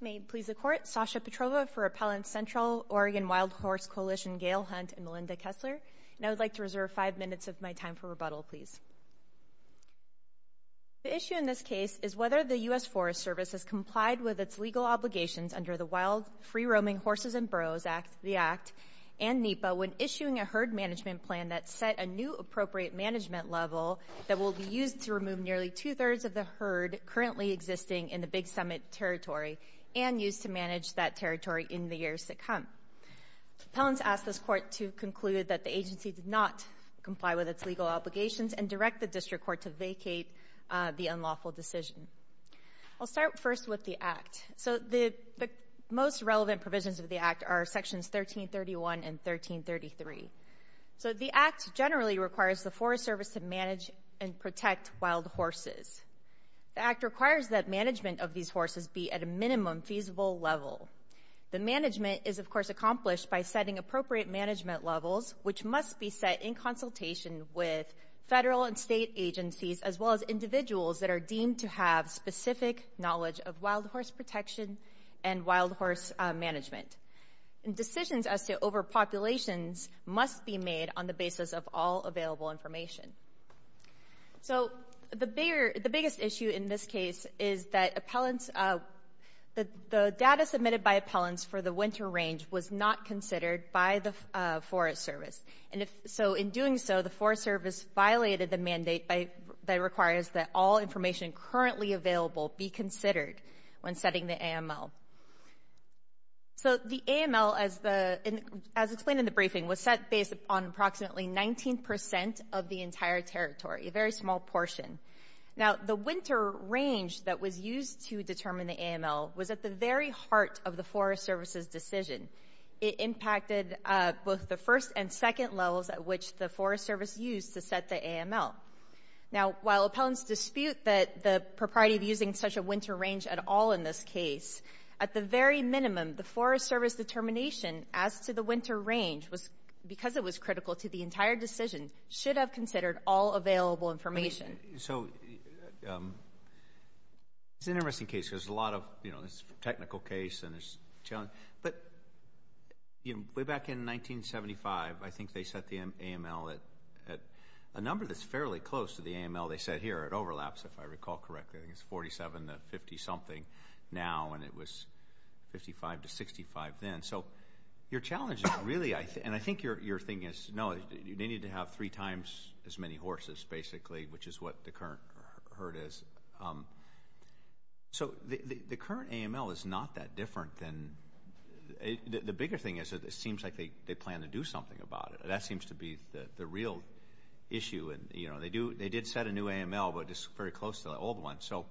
May it please the court, Sasha Petrova for Appellant Central, Oregon Wild Horse Coalition, Gail Hunt and Melinda Kessler. And I would like to reserve five minutes of my time for rebuttal, please. The issue in this case is whether the U.S. Forest Service has complied with its legal obligations under the Wild Free Roaming Horses and Burros Act, the Act, and NEPA when issuing a herd management plan that set a new appropriate management level that will be used to remove nearly two-thirds of the herd currently existing in the Big Summit Territory and used to manage that territory in the years to come. Appellants asked this court to conclude that the agency did not comply with its legal obligations and direct the district court to vacate the unlawful decision. I'll start first with the Act. So the most relevant provisions of the Act are Sections 1331 and 1333. So the Act generally requires the Forest Service to manage and protect wild horses. The Act requires that management of these horses be at a minimum feasible level. The management is, of course, accomplished by setting appropriate management levels, which must be set in consultation with federal and state agencies, as well as individuals that are deemed to have specific knowledge of wild horse protection and wild horse management. Decisions as to over populations must be made on the basis of all available information. So the biggest issue in this case is that appellants, the data submitted by appellants for the winter range was not considered by the Forest Service. And so in doing so, the Forest Service violated the mandate that requires that all information currently available be considered when setting the AML. So the AML, as explained in the briefing, was set based on approximately 19 percent of the entire territory, a very small portion. Now, the winter range that was used to determine the AML was at the very heart of the Forest Service's decision. It impacted both the first and second levels at which the Forest Service used to set the AML. Now, while appellants dispute that the propriety of using such a winter range at all in this case, at the very minimum, the Forest Service determination as to the winter range was, because it was critical to the entire decision, should have considered all available information. So it's an interesting case. There's a lot of, you know, a number that's fairly close to the AML. They said here it overlaps, if I recall correctly. I think it's 47 to 50 something now, and it was 55 to 65 then. So your challenge is really, and I think your thing is, no, they need to have three times as many horses, basically, which is what the current herd is. So the current AML is not that different than, the bigger thing is it seems like they plan to do something about it. That seems to be the real issue. And, you know, they did set a new AML, but it's very close to the old one. So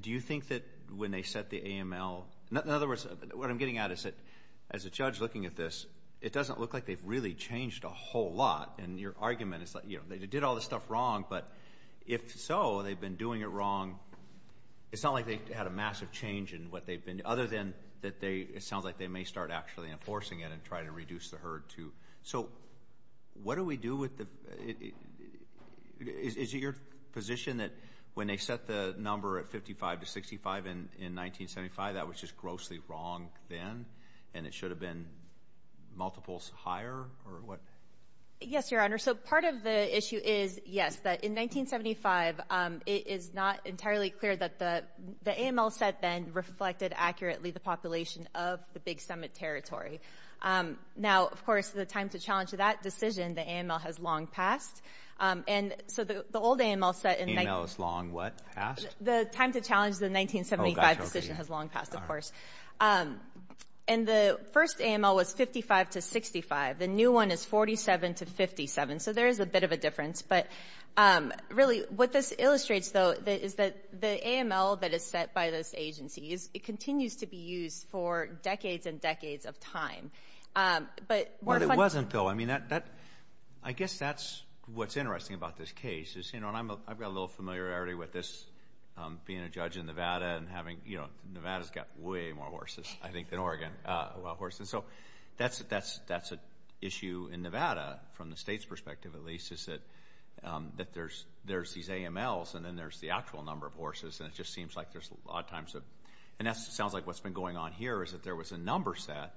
do you think that when they set the AML, in other words, what I'm getting at is that, as a judge looking at this, it doesn't look like they've really changed a whole lot. And your argument is that, you know, they did all this stuff wrong, but if so, they've been doing it wrong. It's not like they had a massive change in what they've been, other than that they, it sounds like they may start actually enforcing it and try to reduce the herd too. So what do we do with the, is it your position that when they set the number at 55 to 65 in 1975, that was just grossly wrong then? And it should have been multiples higher or what? Yes, your honor. So part of the issue is, yes, that in 1975, it is not entirely clear that the AML set then reflected accurately the population of the big summit territory. Now, of course, the time to challenge that decision, the AML has long passed. And so the old AML set in... AML is long what? Past? The time to challenge the 1975 decision has long passed, of course. And the first AML was 55 to 65. The new one is 47 to 57. So there is a bit of a difference, but really what this illustrates though, is that the AML that is set by this agency, it continues to be used for decades and decades of time. But... What it wasn't though, I mean, I guess that's what's interesting about this case is, you know, and I've got a little familiarity with this, being a judge in Nevada and having, you know, Nevada's got way more horses, I think, than Oregon, wild horses. So that's an issue in Nevada, from the state's perspective, at least, is that there's these AMLs and then there's the actual number of horses. And it just seems like there's a lot of times of... And that sounds like what's been going on here is that there was a number set,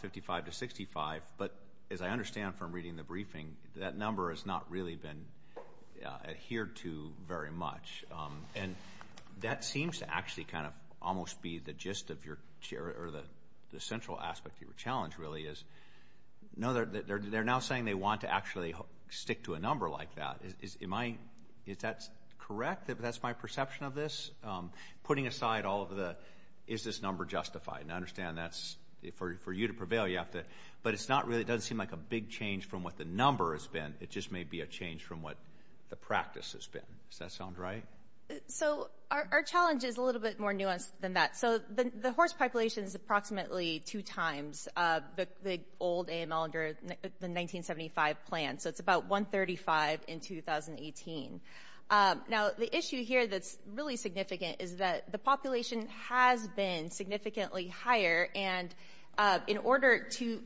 55 to 65. But as I understand from reading the briefing, that number has not really been adhered to very much. And that seems to actually kind of almost be the gist of your... Or the central aspect of your challenge really is, no, they're now saying they want to actually stick to a number like that. Is that correct? That's my perception of this? Putting aside all of the, is this number justified? And I understand that's... For you to prevail, you have to... But it's not really... It doesn't seem like a big change from what the number has been. It just may be a change from what the practice has been. Does that sound right? So our challenge is a little bit more nuanced than that. So the horse population is approximately two times the old AML under the 1975 plan. So it's about 135 in 2018. Now, the issue here that's really significant is that the population has been significantly higher. And in order to...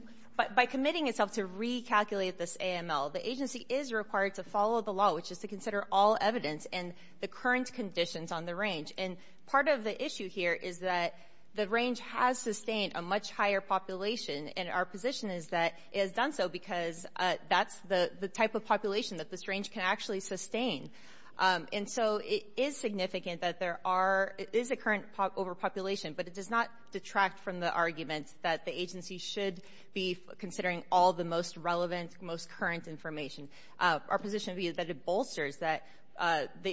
By committing itself to recalculate this AML, the agency is required to follow the law, which is to consider all evidence and the current conditions on the range. And part of the issue here is that the range has sustained a much higher population. And our position is that it has done so because that's the type of population that this range can actually sustain. And so it is significant that there are... It is a current overpopulation, but it does not detract from the argument that the agency should be considering all the most relevant, most current information. Our position would be that it bolsters the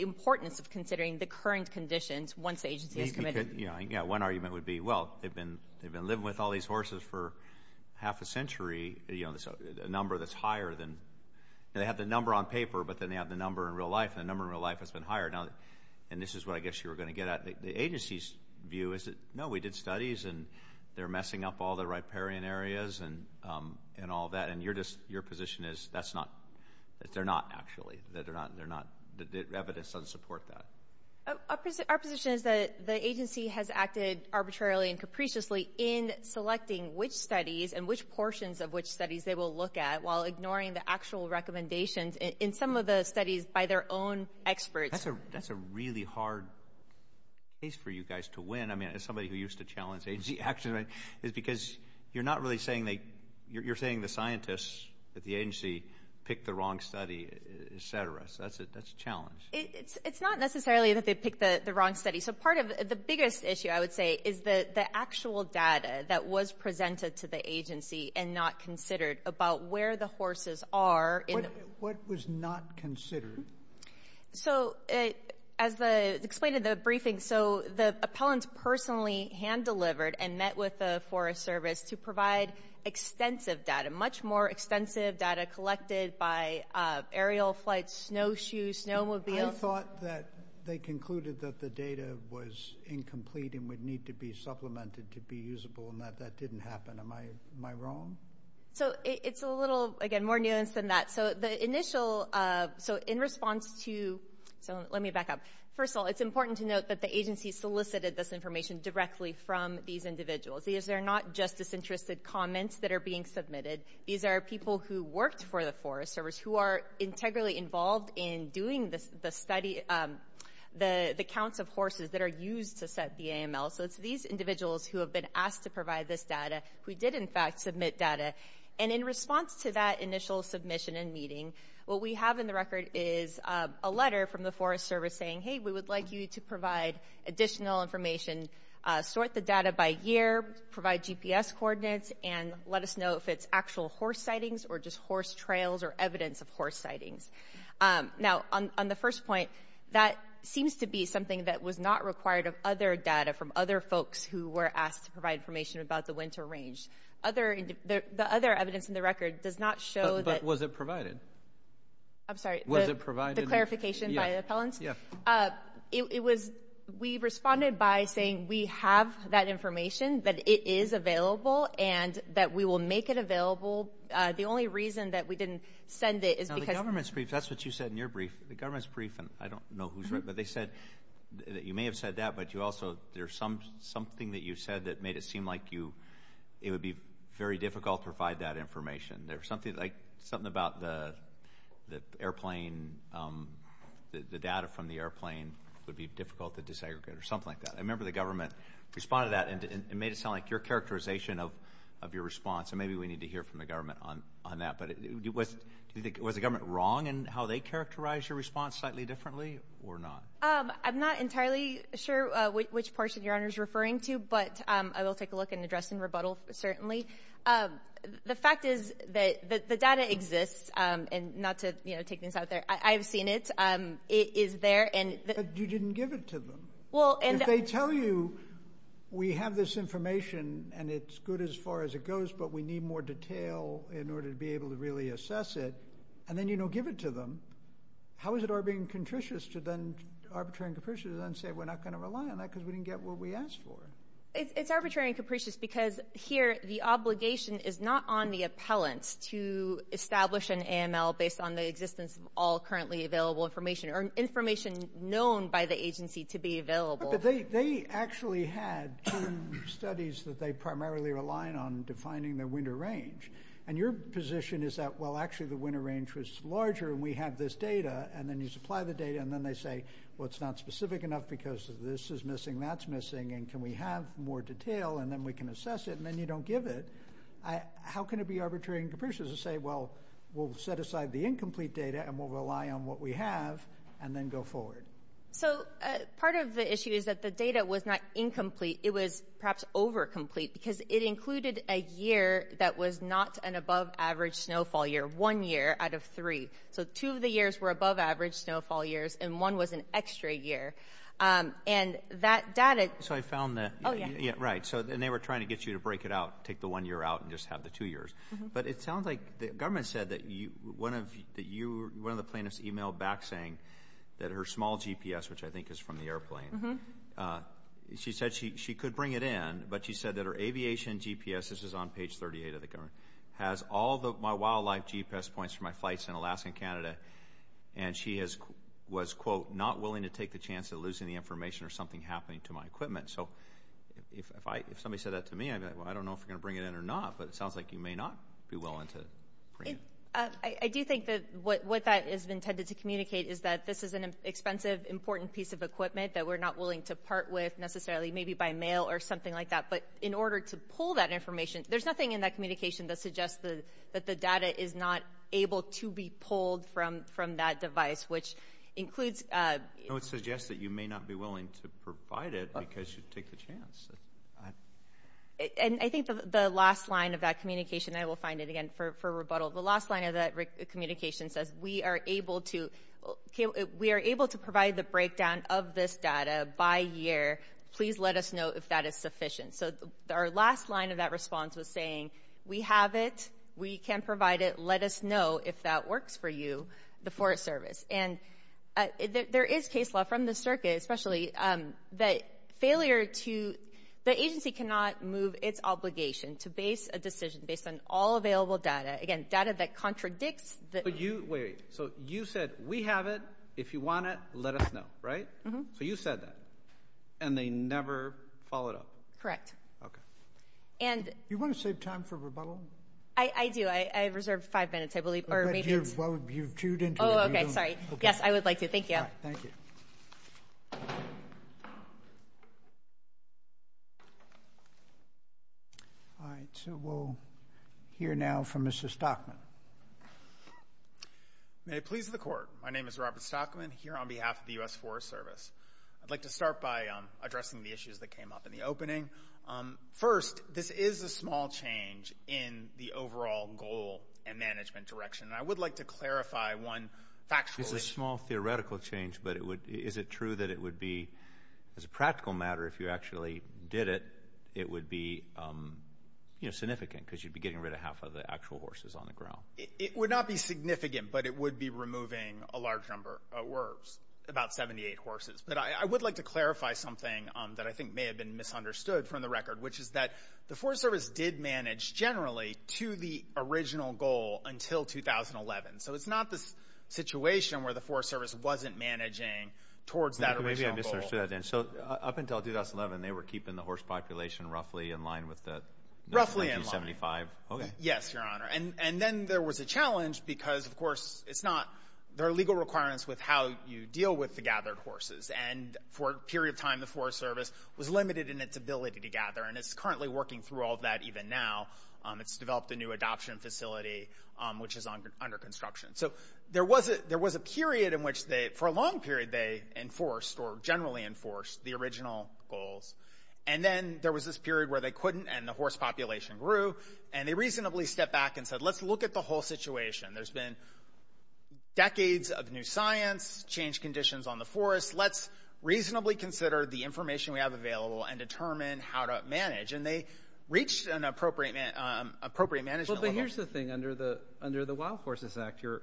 importance of considering the current conditions once the agency has committed. Yeah, one argument would be, well, they've been living with all these horses for half a century, a number that's higher than... They have the number on paper, but then they have the number in real life. And the number in real life has been higher. And this is what I guess you were going to get at. The agency's view is that, no, we did studies and they're messing up all the riparian areas and all that. And your position is that they're not, actually. The evidence doesn't support that. Our position is that the agency has acted arbitrarily and capriciously in selecting which studies and which portions of which studies they will look at while ignoring the actual recommendations in some of the studies by their own experts. That's a really hard case for you guys to win. I mean, as somebody who used to pick the wrong study, et cetera. So that's a challenge. It's not necessarily that they picked the wrong study. So part of the biggest issue, I would say, is the actual data that was presented to the agency and not considered about where the horses are. What was not considered? So as explained in the briefing, so the appellant personally hand-delivered and met with the Forest Service to provide extensive data, much more extensive data collected by aerial flights, snowshoes, snowmobiles. I thought that they concluded that the data was incomplete and would need to be supplemented to be usable and that that didn't happen. Am I wrong? So it's a little, again, more nuanced than that. So the initial, so in response to, so let me back up. First of all, it's important to note that the agency solicited this information directly from these individuals. These are not just disinterested comments that are being submitted. These are people who worked for the Forest Service, who are integrally involved in doing the study, the counts of horses that are used to set the AML. So it's these individuals who have been asked to provide this data, who did in fact submit data. And in response to that initial submission and meeting, what we have in the record is a letter from the Forest Service saying, hey, we would like you to provide additional information, sort the data by year, provide GPS coordinates, and let us know if it's actual horse sightings or just horse trails or evidence of horse sightings. Now, on the first point, that seems to be something that was not required of other data from other folks who were asked to provide information about the winter range. The other evidence in the record does not show that... But was it provided? I'm sorry. Was it provided? The clarification by the appellants? Yeah. It was, we responded by saying we have that information, that it is available, and that we will make it available. The only reason that we didn't send it is because... Now, the government's brief, that's what you said in your brief. The government's brief, and I don't know who's right, but they said that you may have said that, but you also, there's something that you said that made it seem like it would be very difficult to provide that information. There was something about the airplane, the data from the airplane would be difficult to desegregate or something like that. I remember the government responded to that, and it made it sound like your characterization of your response, and maybe we need to hear from the government on that, but was the government wrong in how they characterized your response slightly differently or not? I'm not entirely sure which portion Your Honor's referring to, but I will take a look and address in rebuttal, certainly. The fact is that the data exists, and not to take things out there, I've seen it. It is there, and... But you didn't give it to them. If they tell you, we have this information, and it's good as far as it goes, but we need more detail in order to be able to really assess it, and then you don't give it to them, how is it arbitrary and capricious to then say we're not going to rely on that because we didn't get what we asked for? It's arbitrary and capricious because here the obligation is not on the appellants to establish an AML based on the existence of all currently available information, or information known by the agency to be available. But they actually had two studies that they primarily relied on defining the winter range, and your position is that, well, actually the winter range was larger, and we have this data, and then you supply the data, and then they say, well, it's not specific enough because this is missing, that's missing, and can we have more detail, and then we can assess it, and then you don't give it. How can it be arbitrary and capricious to say, well, we'll set aside the incomplete data, and we'll rely on what we have, and then go forward? So part of the issue is that the data was not incomplete. It was perhaps overcomplete because it included a year that was not an above average snowfall year, one year out of three. So two of the years were above average snowfall years, and one was an extra year. And that data... So I found that... Oh, yeah. Yeah, right. And they were trying to get you to break it out, take the one year out, and just have the two years. But it sounds like the government said that one of the plaintiffs emailed back saying that her small GPS, which I think is from the airplane, she said she could bring it in, but she said that her aviation GPS, this is on page 38 of the government, has all my wildlife GPS points from my flights in Alaska and Canada, and she was, quote, not willing to take the chance of losing the information or something happening to my equipment. So if somebody said that to me, I'd be like, well, I don't know if you're going to bring it in or not, but it sounds like you may not be willing to bring it. I do think that what that is intended to communicate is that this is an expensive, important piece of equipment that we're not willing to part with necessarily, maybe by mail or something like that. But in order to pull that information, there's nothing in that communication that suggests that the data is not able to be pulled from that device, which includes... No, it suggests that you may not be willing to provide it because you take the chance. And I think the last line of that communication, I will find it again for rebuttal, the last line of that communication says, we are able to provide the breakdown of this data by year. Please let us know if that is sufficient. So our last line of that response was saying, we have it, we can provide it, let us know if that works for you, the Forest Service. And there is case law from the circuit, especially that failure to... The agency cannot move its obligation to base a decision based on all available data, again, data that contradicts... So you said, we have it, if you want it, let us know, right? So you said that, and they never followed up. Correct. You want to save time for rebuttal? I do. I've reserved five minutes, I believe. You've chewed into it. Oh, okay. Sorry. Yes, I would like to. Thank you. Thank you. All right. So we'll hear now from Mr. Stockman. May it please the court. My name is Robert Stockman here on behalf of the US Forest Service. I'd like to start by addressing the issues that came up in the opening. First, this is a small change in the overall goal and management direction. And I would like to clarify one factually. It's a small theoretical change, but is it true that it would be, as a practical matter, if you actually did it, it would be significant because you'd be getting rid of half of the actual horses on the ground. It would not be significant, but it would be removing a large number of wolves, about 78 horses. But I would like to clarify something that I think may have been misunderstood from the record, which is that the Forest Service did generally to the original goal until 2011. So it's not the situation where the Forest Service wasn't managing towards that original goal. Maybe I misunderstood that. So up until 2011, they were keeping the horse population roughly in line with the 1975? Roughly in line. Okay. Yes, Your Honor. And then there was a challenge because, of course, there are legal requirements with how you deal with the gathered horses. And for a period of time, the Forest Service was limited in its ability to gather. And it's currently working through all of that even now. It's developed a new adoption facility, which is under construction. So there was a period in which they, for a long period, they enforced or generally enforced the original goals. And then there was this period where they couldn't, and the horse population grew. And they reasonably stepped back and said, let's look at the whole situation. There's been decades of new science, changed conditions on the forest. Let's reasonably consider the information we have available and determine how to manage. And they reached an appropriate management level. Well, but here's the thing. Under the Wild Horses Act, you're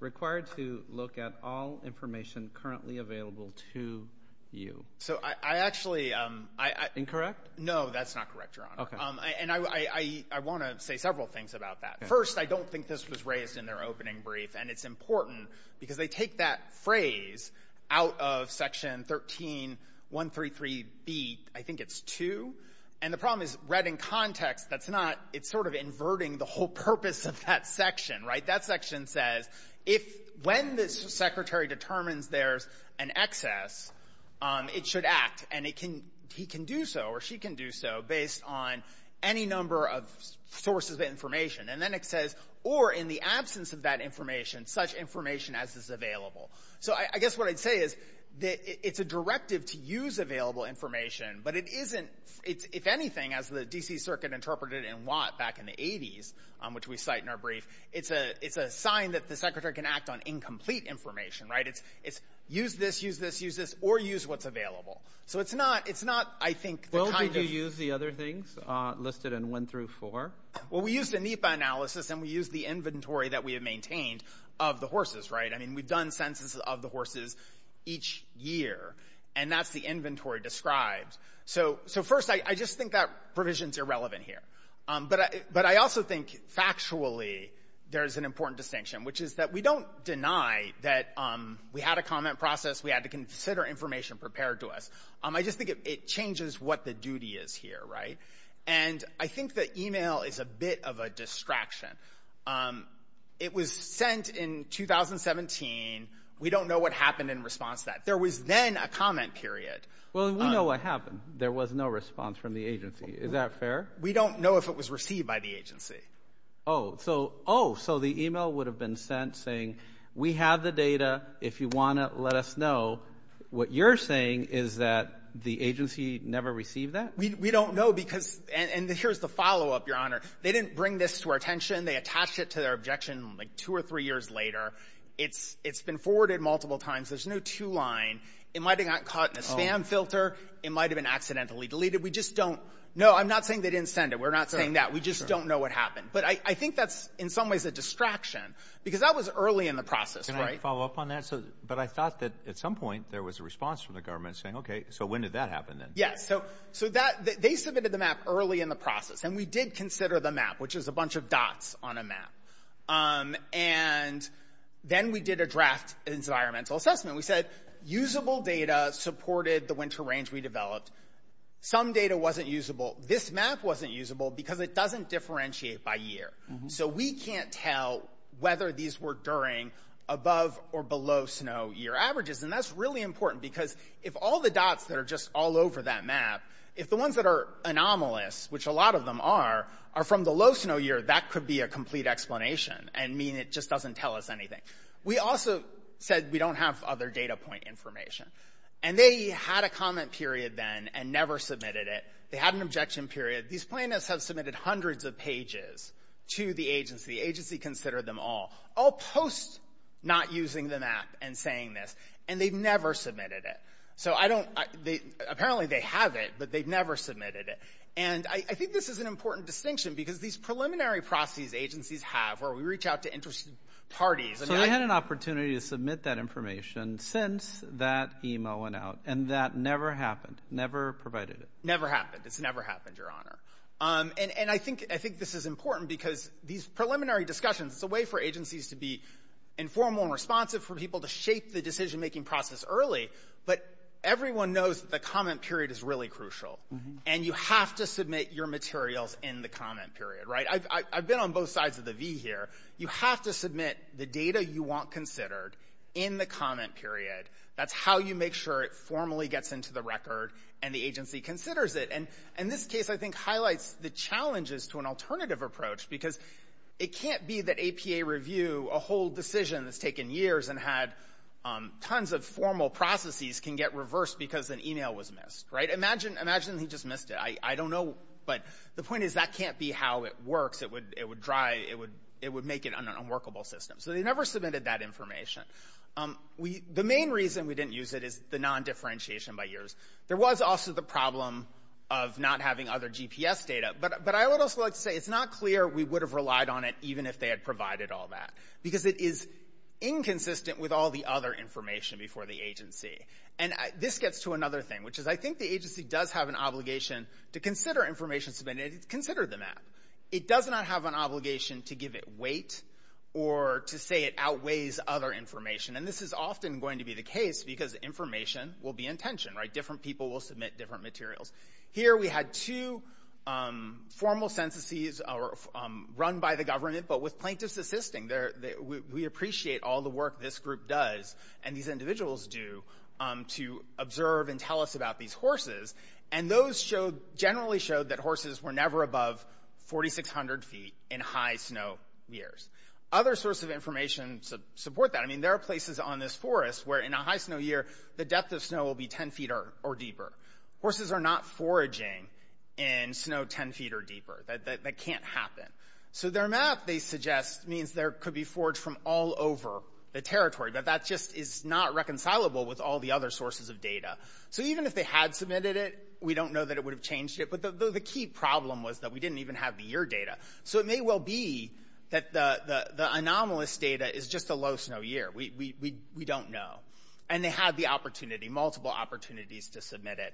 required to look at all information currently available to you. So I actually... Incorrect? No, that's not correct, Your Honor. Okay. And I want to say several things about that. First, I don't think this was raised in their opening brief. And it's important, because they take that phrase out of Section 13133b, I think it's 2. And the problem is, read in context, that's not... It's sort of inverting the whole purpose of that section, right? That section says, when the secretary determines there's an excess, it should act. And he can do so, or she can do so, based on any number of information. And then it says, or in the absence of that information, such information as is available. So I guess what I'd say is, it's a directive to use available information, but it isn't... If anything, as the D.C. Circuit interpreted in Watt back in the 80s, which we cite in our brief, it's a sign that the secretary can act on incomplete information, right? It's use this, use this, use this, or use what's available. So it's not, I think... How did you use the other things listed in 1 through 4? Well, we used a NEPA analysis, and we used the inventory that we have maintained of the horses, right? I mean, we've done census of the horses each year, and that's the inventory described. So first, I just think that provision's irrelevant here. But I also think, factually, there's an important distinction, which is that we don't deny that we had a comment process. We had to consider information prepared to us. I just think it changes what the duty is here, right? And I think that email is a bit of a distraction. It was sent in 2017. We don't know what happened in response to that. There was then a comment period. Well, we know what happened. There was no response from the agency. Is that fair? We don't know if it was received by the agency. Oh, so the email would have been sent saying, we have the data. If you want it, let us know. What you're saying is that the agency never received that? We don't know because, and here's the follow-up, Your Honor. They didn't bring this to our attention. They attached it to their objection like two or three years later. It's been forwarded multiple times. There's no two-line. It might have gotten caught in a spam filter. It might have been accidentally deleted. We just don't know. I'm not saying they didn't send it. We're I think that's in some ways a distraction because that was early in the process. Can I follow up on that? But I thought that at some point there was a response from the government saying, okay, so when did that happen then? Yes. So they submitted the map early in the process. And we did consider the map, which is a bunch of dots on a map. And then we did a draft environmental assessment. We said usable data supported the winter range we developed. Some data wasn't usable. This map wasn't usable because it doesn't differentiate by year. So we can't tell whether these were during above or below snow year averages. And that's really important because if all the dots that are just all over that map, if the ones that are anomalous, which a lot of them are, are from the low snow year, that could be a complete explanation and mean it just doesn't tell us anything. We also said we don't have other data point information. And they had a comment period then and never submitted it. They had an objection period. These plaintiffs have submitted hundreds of pages to the agency. The agency considered them all. All post not using the map and saying this. And they've never submitted it. So I don't, they, apparently they have it, but they've never submitted it. And I think this is an important distinction because these preliminary processes agencies have where we reach out to interested parties. So they had an opportunity to submit that information since that email went out. And that never happened. Never provided it. Never happened. It's never happened, Your Honor. And, and I think, I think this is important because these preliminary discussions, it's a way for agencies to be informal and responsive for people to shape the decision making process early. But everyone knows that the comment period is really crucial. And you have to submit your materials in the comment period, right? I've been on both sides of the V here. You have to submit the data you want considered in the comment period. That's how you make sure it formally gets into the record and the agency considers it. And, and this case I think highlights the challenges to an alternative approach because it can't be that APA review, a whole decision that's taken years and had tons of formal processes can get reversed because an email was missed, right? Imagine, imagine he just missed it. I, I don't know. But the point is that can't be how it works. It would, it would dry. It would, it would make it an unworkable system. So they never submitted that information. We, the main reason we didn't use it is the non-differentiation by years. There was also the problem of not having other GPS data, but, but I would also like to say it's not clear we would have relied on it even if they had provided all that because it is inconsistent with all the other information before the agency. And this gets to another thing, which is I think the agency does have an obligation to consider information submitted, consider the map. It does not have an obligation to give it weight or to say it outweighs other information. And this is often going to be the case because information will be in tension, right? Different people will submit different materials. Here we had two formal censuses run by the government, but with plaintiffs assisting there, we appreciate all the work this group does and these individuals do to observe and tell us about these horses. And those showed, generally showed that horses were never above 4,600 feet in high snow years. Other sources of information support that. I mean, there are places on this forest where in a high snow year, the depth of snow will be 10 feet or deeper. Horses are not foraging in snow 10 feet or deeper. That can't happen. So their map, they suggest, means there could be forage from all over the territory, but that just is not reconcilable with all the other sources of data. So even if they had submitted it, we don't know that it would have changed it. But the key problem was that we didn't even have the year data. So it may well be that the anomalous data is just a low snow year. We don't know. And they had the opportunity, multiple opportunities to submit it.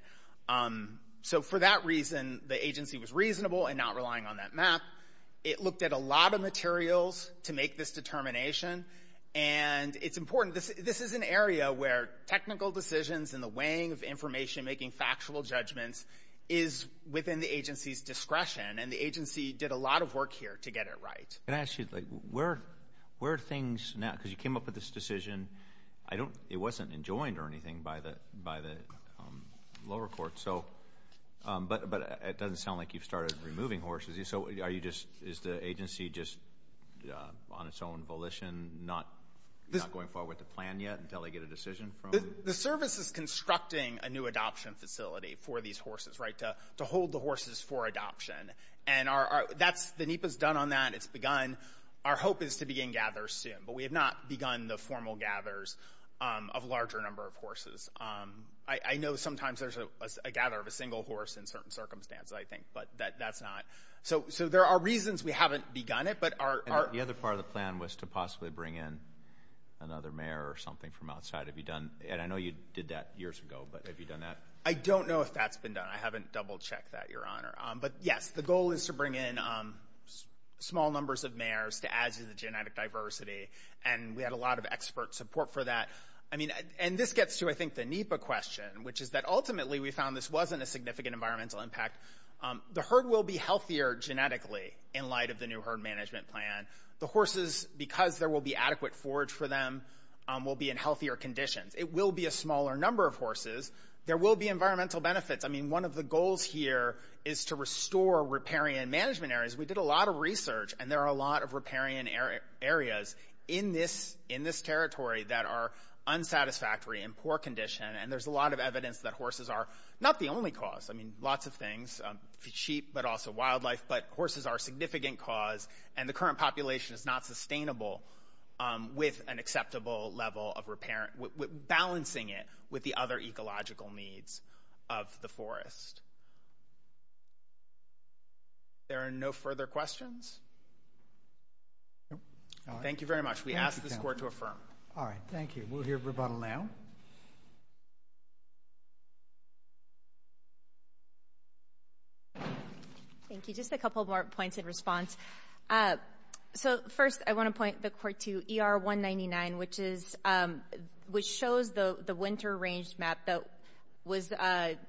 So for that reason, the agency was reasonable in not relying on that map. It looked at a lot of materials to make this determination. And it's important, this is an area where technical decisions and the weighing of information, making factual judgments, is within the agency's discretion. And the agency did a lot of work here to get it right. Can I ask you, where are things now? Because you came up with this decision. It wasn't enjoined or anything by the lower court. But it doesn't sound like you've started removing horses. So is the agency just on its own volition, not going forward with a plan yet until they get a decision? The service is constructing a new adoption facility for these horses, right, to hold the horses for adoption. And the NEPA's done on that. It's begun. Our hope is to begin gathers soon. But we have not begun the formal gathers of a larger number of horses. I know sometimes there's a gather of a single horse in certain circumstances, I think, but that's not. So there are reasons we haven't begun it. And the other part of the plan was to possibly bring in another mare or something from outside. Have you done? And I know you did that years ago, but have you done that? I don't know if that's been done. I haven't double-checked that, Your Honor. But yes, the goal is to bring in small numbers of mares to add to the genetic diversity. And we had a lot of expert support for that. I mean, and this gets to, I think, the NEPA question, which is that ultimately we found this wasn't a significant environmental impact. The herd will be healthier genetically in light of the new herd management plan. The horses, because there will be adequate forage for them, will be in healthier conditions. It will be a smaller number of horses. There will be environmental benefits. I mean, one of the goals here is to restore riparian management areas. We did a lot of research, and there are a lot of riparian areas in this territory that are unsatisfactory and poor condition. And there's a lot of evidence that horses are not the only cause. I mean, lots of things, sheep, but also is not sustainable with an acceptable level of riparian, balancing it with the other ecological needs of the forest. There are no further questions? Thank you very much. We ask this Court to affirm. All right. Thank you. We'll hear rebuttal now. Thank you. Just a couple more points in response. So first, I want to point the Court to ER-199, which shows the winter range map that was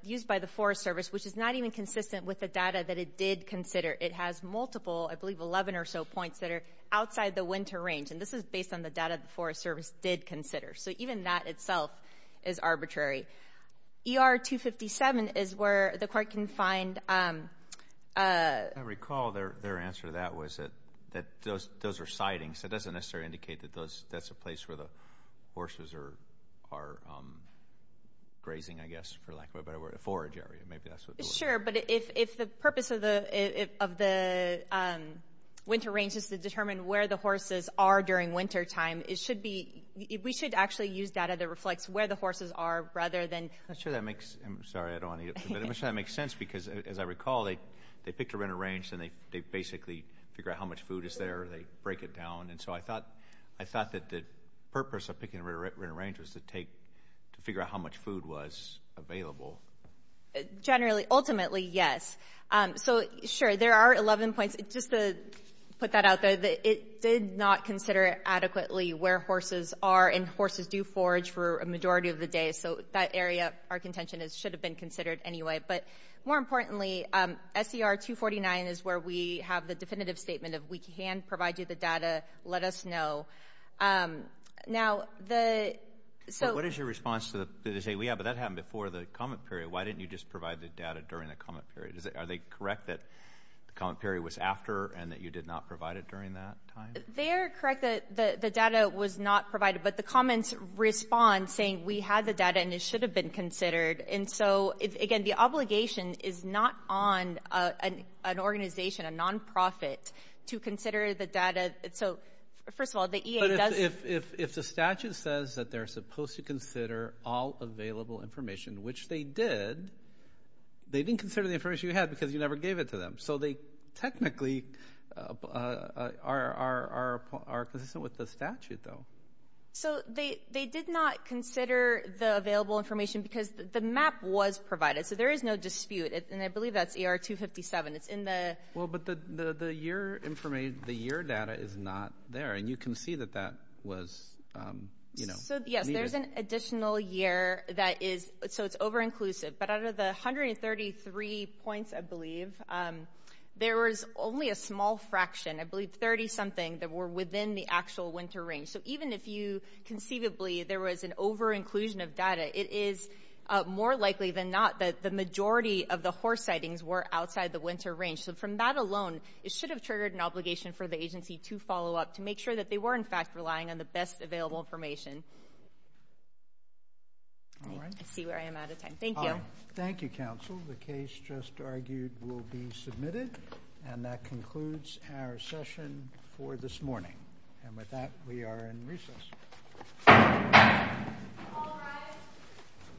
used by the Forest Service, which is not even consistent with the data that it did consider. It has multiple, I believe 11 or so points that are outside the winter range. And this is based on the data the Forest Service did consider. So even that itself is arbitrary. ER-257 is where the Court can find... I recall their answer to that was that those are siding. So it doesn't necessarily indicate that that's a place where the horses are grazing, I guess, for lack of a better word, a forage area. Sure. But if the purpose of the winter range is to determine where the horses are during wintertime, it should be... We should actually use data that reflects where the horses are rather than... I'm sure that makes... I'm sorry, I don't want to... I'm sure that makes sense because, as I recall, they picked a winter range and they basically figure out how much food is there, they break it down. And so I thought that the purpose of picking a winter range was to take... to figure out how much food was available. Generally, ultimately, yes. So, sure, there are 11 points. Just to put that out there, it did not consider adequately where horses are. And horses do forage for a majority of the day. So that area, our contention, should have been considered anyway. But more importantly, SER-249 is where we have the definitive statement of, we can provide you the data, let us know. Now, the... So... What is your response to the state? We have... But that happened before the comment period. Why didn't you just provide the data during the comment period? Are they correct that the comment period was after and that you did not provide it during that time? They are correct that the data was not provided. But the comments respond saying, we had the data and it should have been considered. And so, again, the obligation is not on an organization, a non-profit, to consider the data. So, first of all, the EA does... But if the statute says that they're supposed to consider all available information, which they did, they didn't consider the information you had because you never gave it to them. So they technically are consistent with the statute, though. So they did not consider the available information because the map was provided. So there is no dispute. And I believe that's ER-257. It's in the... Well, but the year information, the year data is not there. And you can see that that was... So, yes, there's an additional year that is... So it's over-inclusive. But out of the 133 points, I believe, there was only a small fraction, I believe 30-something that were within the actual winter range. So even if you conceivably, there was an over-inclusion of data, it is more likely than not that the majority of the horse sightings were outside the winter range. So from that alone, it should have triggered an obligation for the agency to follow up, make sure that they were, in fact, relying on the best available information. I see where I am out of time. Thank you. Thank you, counsel. The case just argued will be submitted. And that concludes our session for this morning. And with that, we are in recess.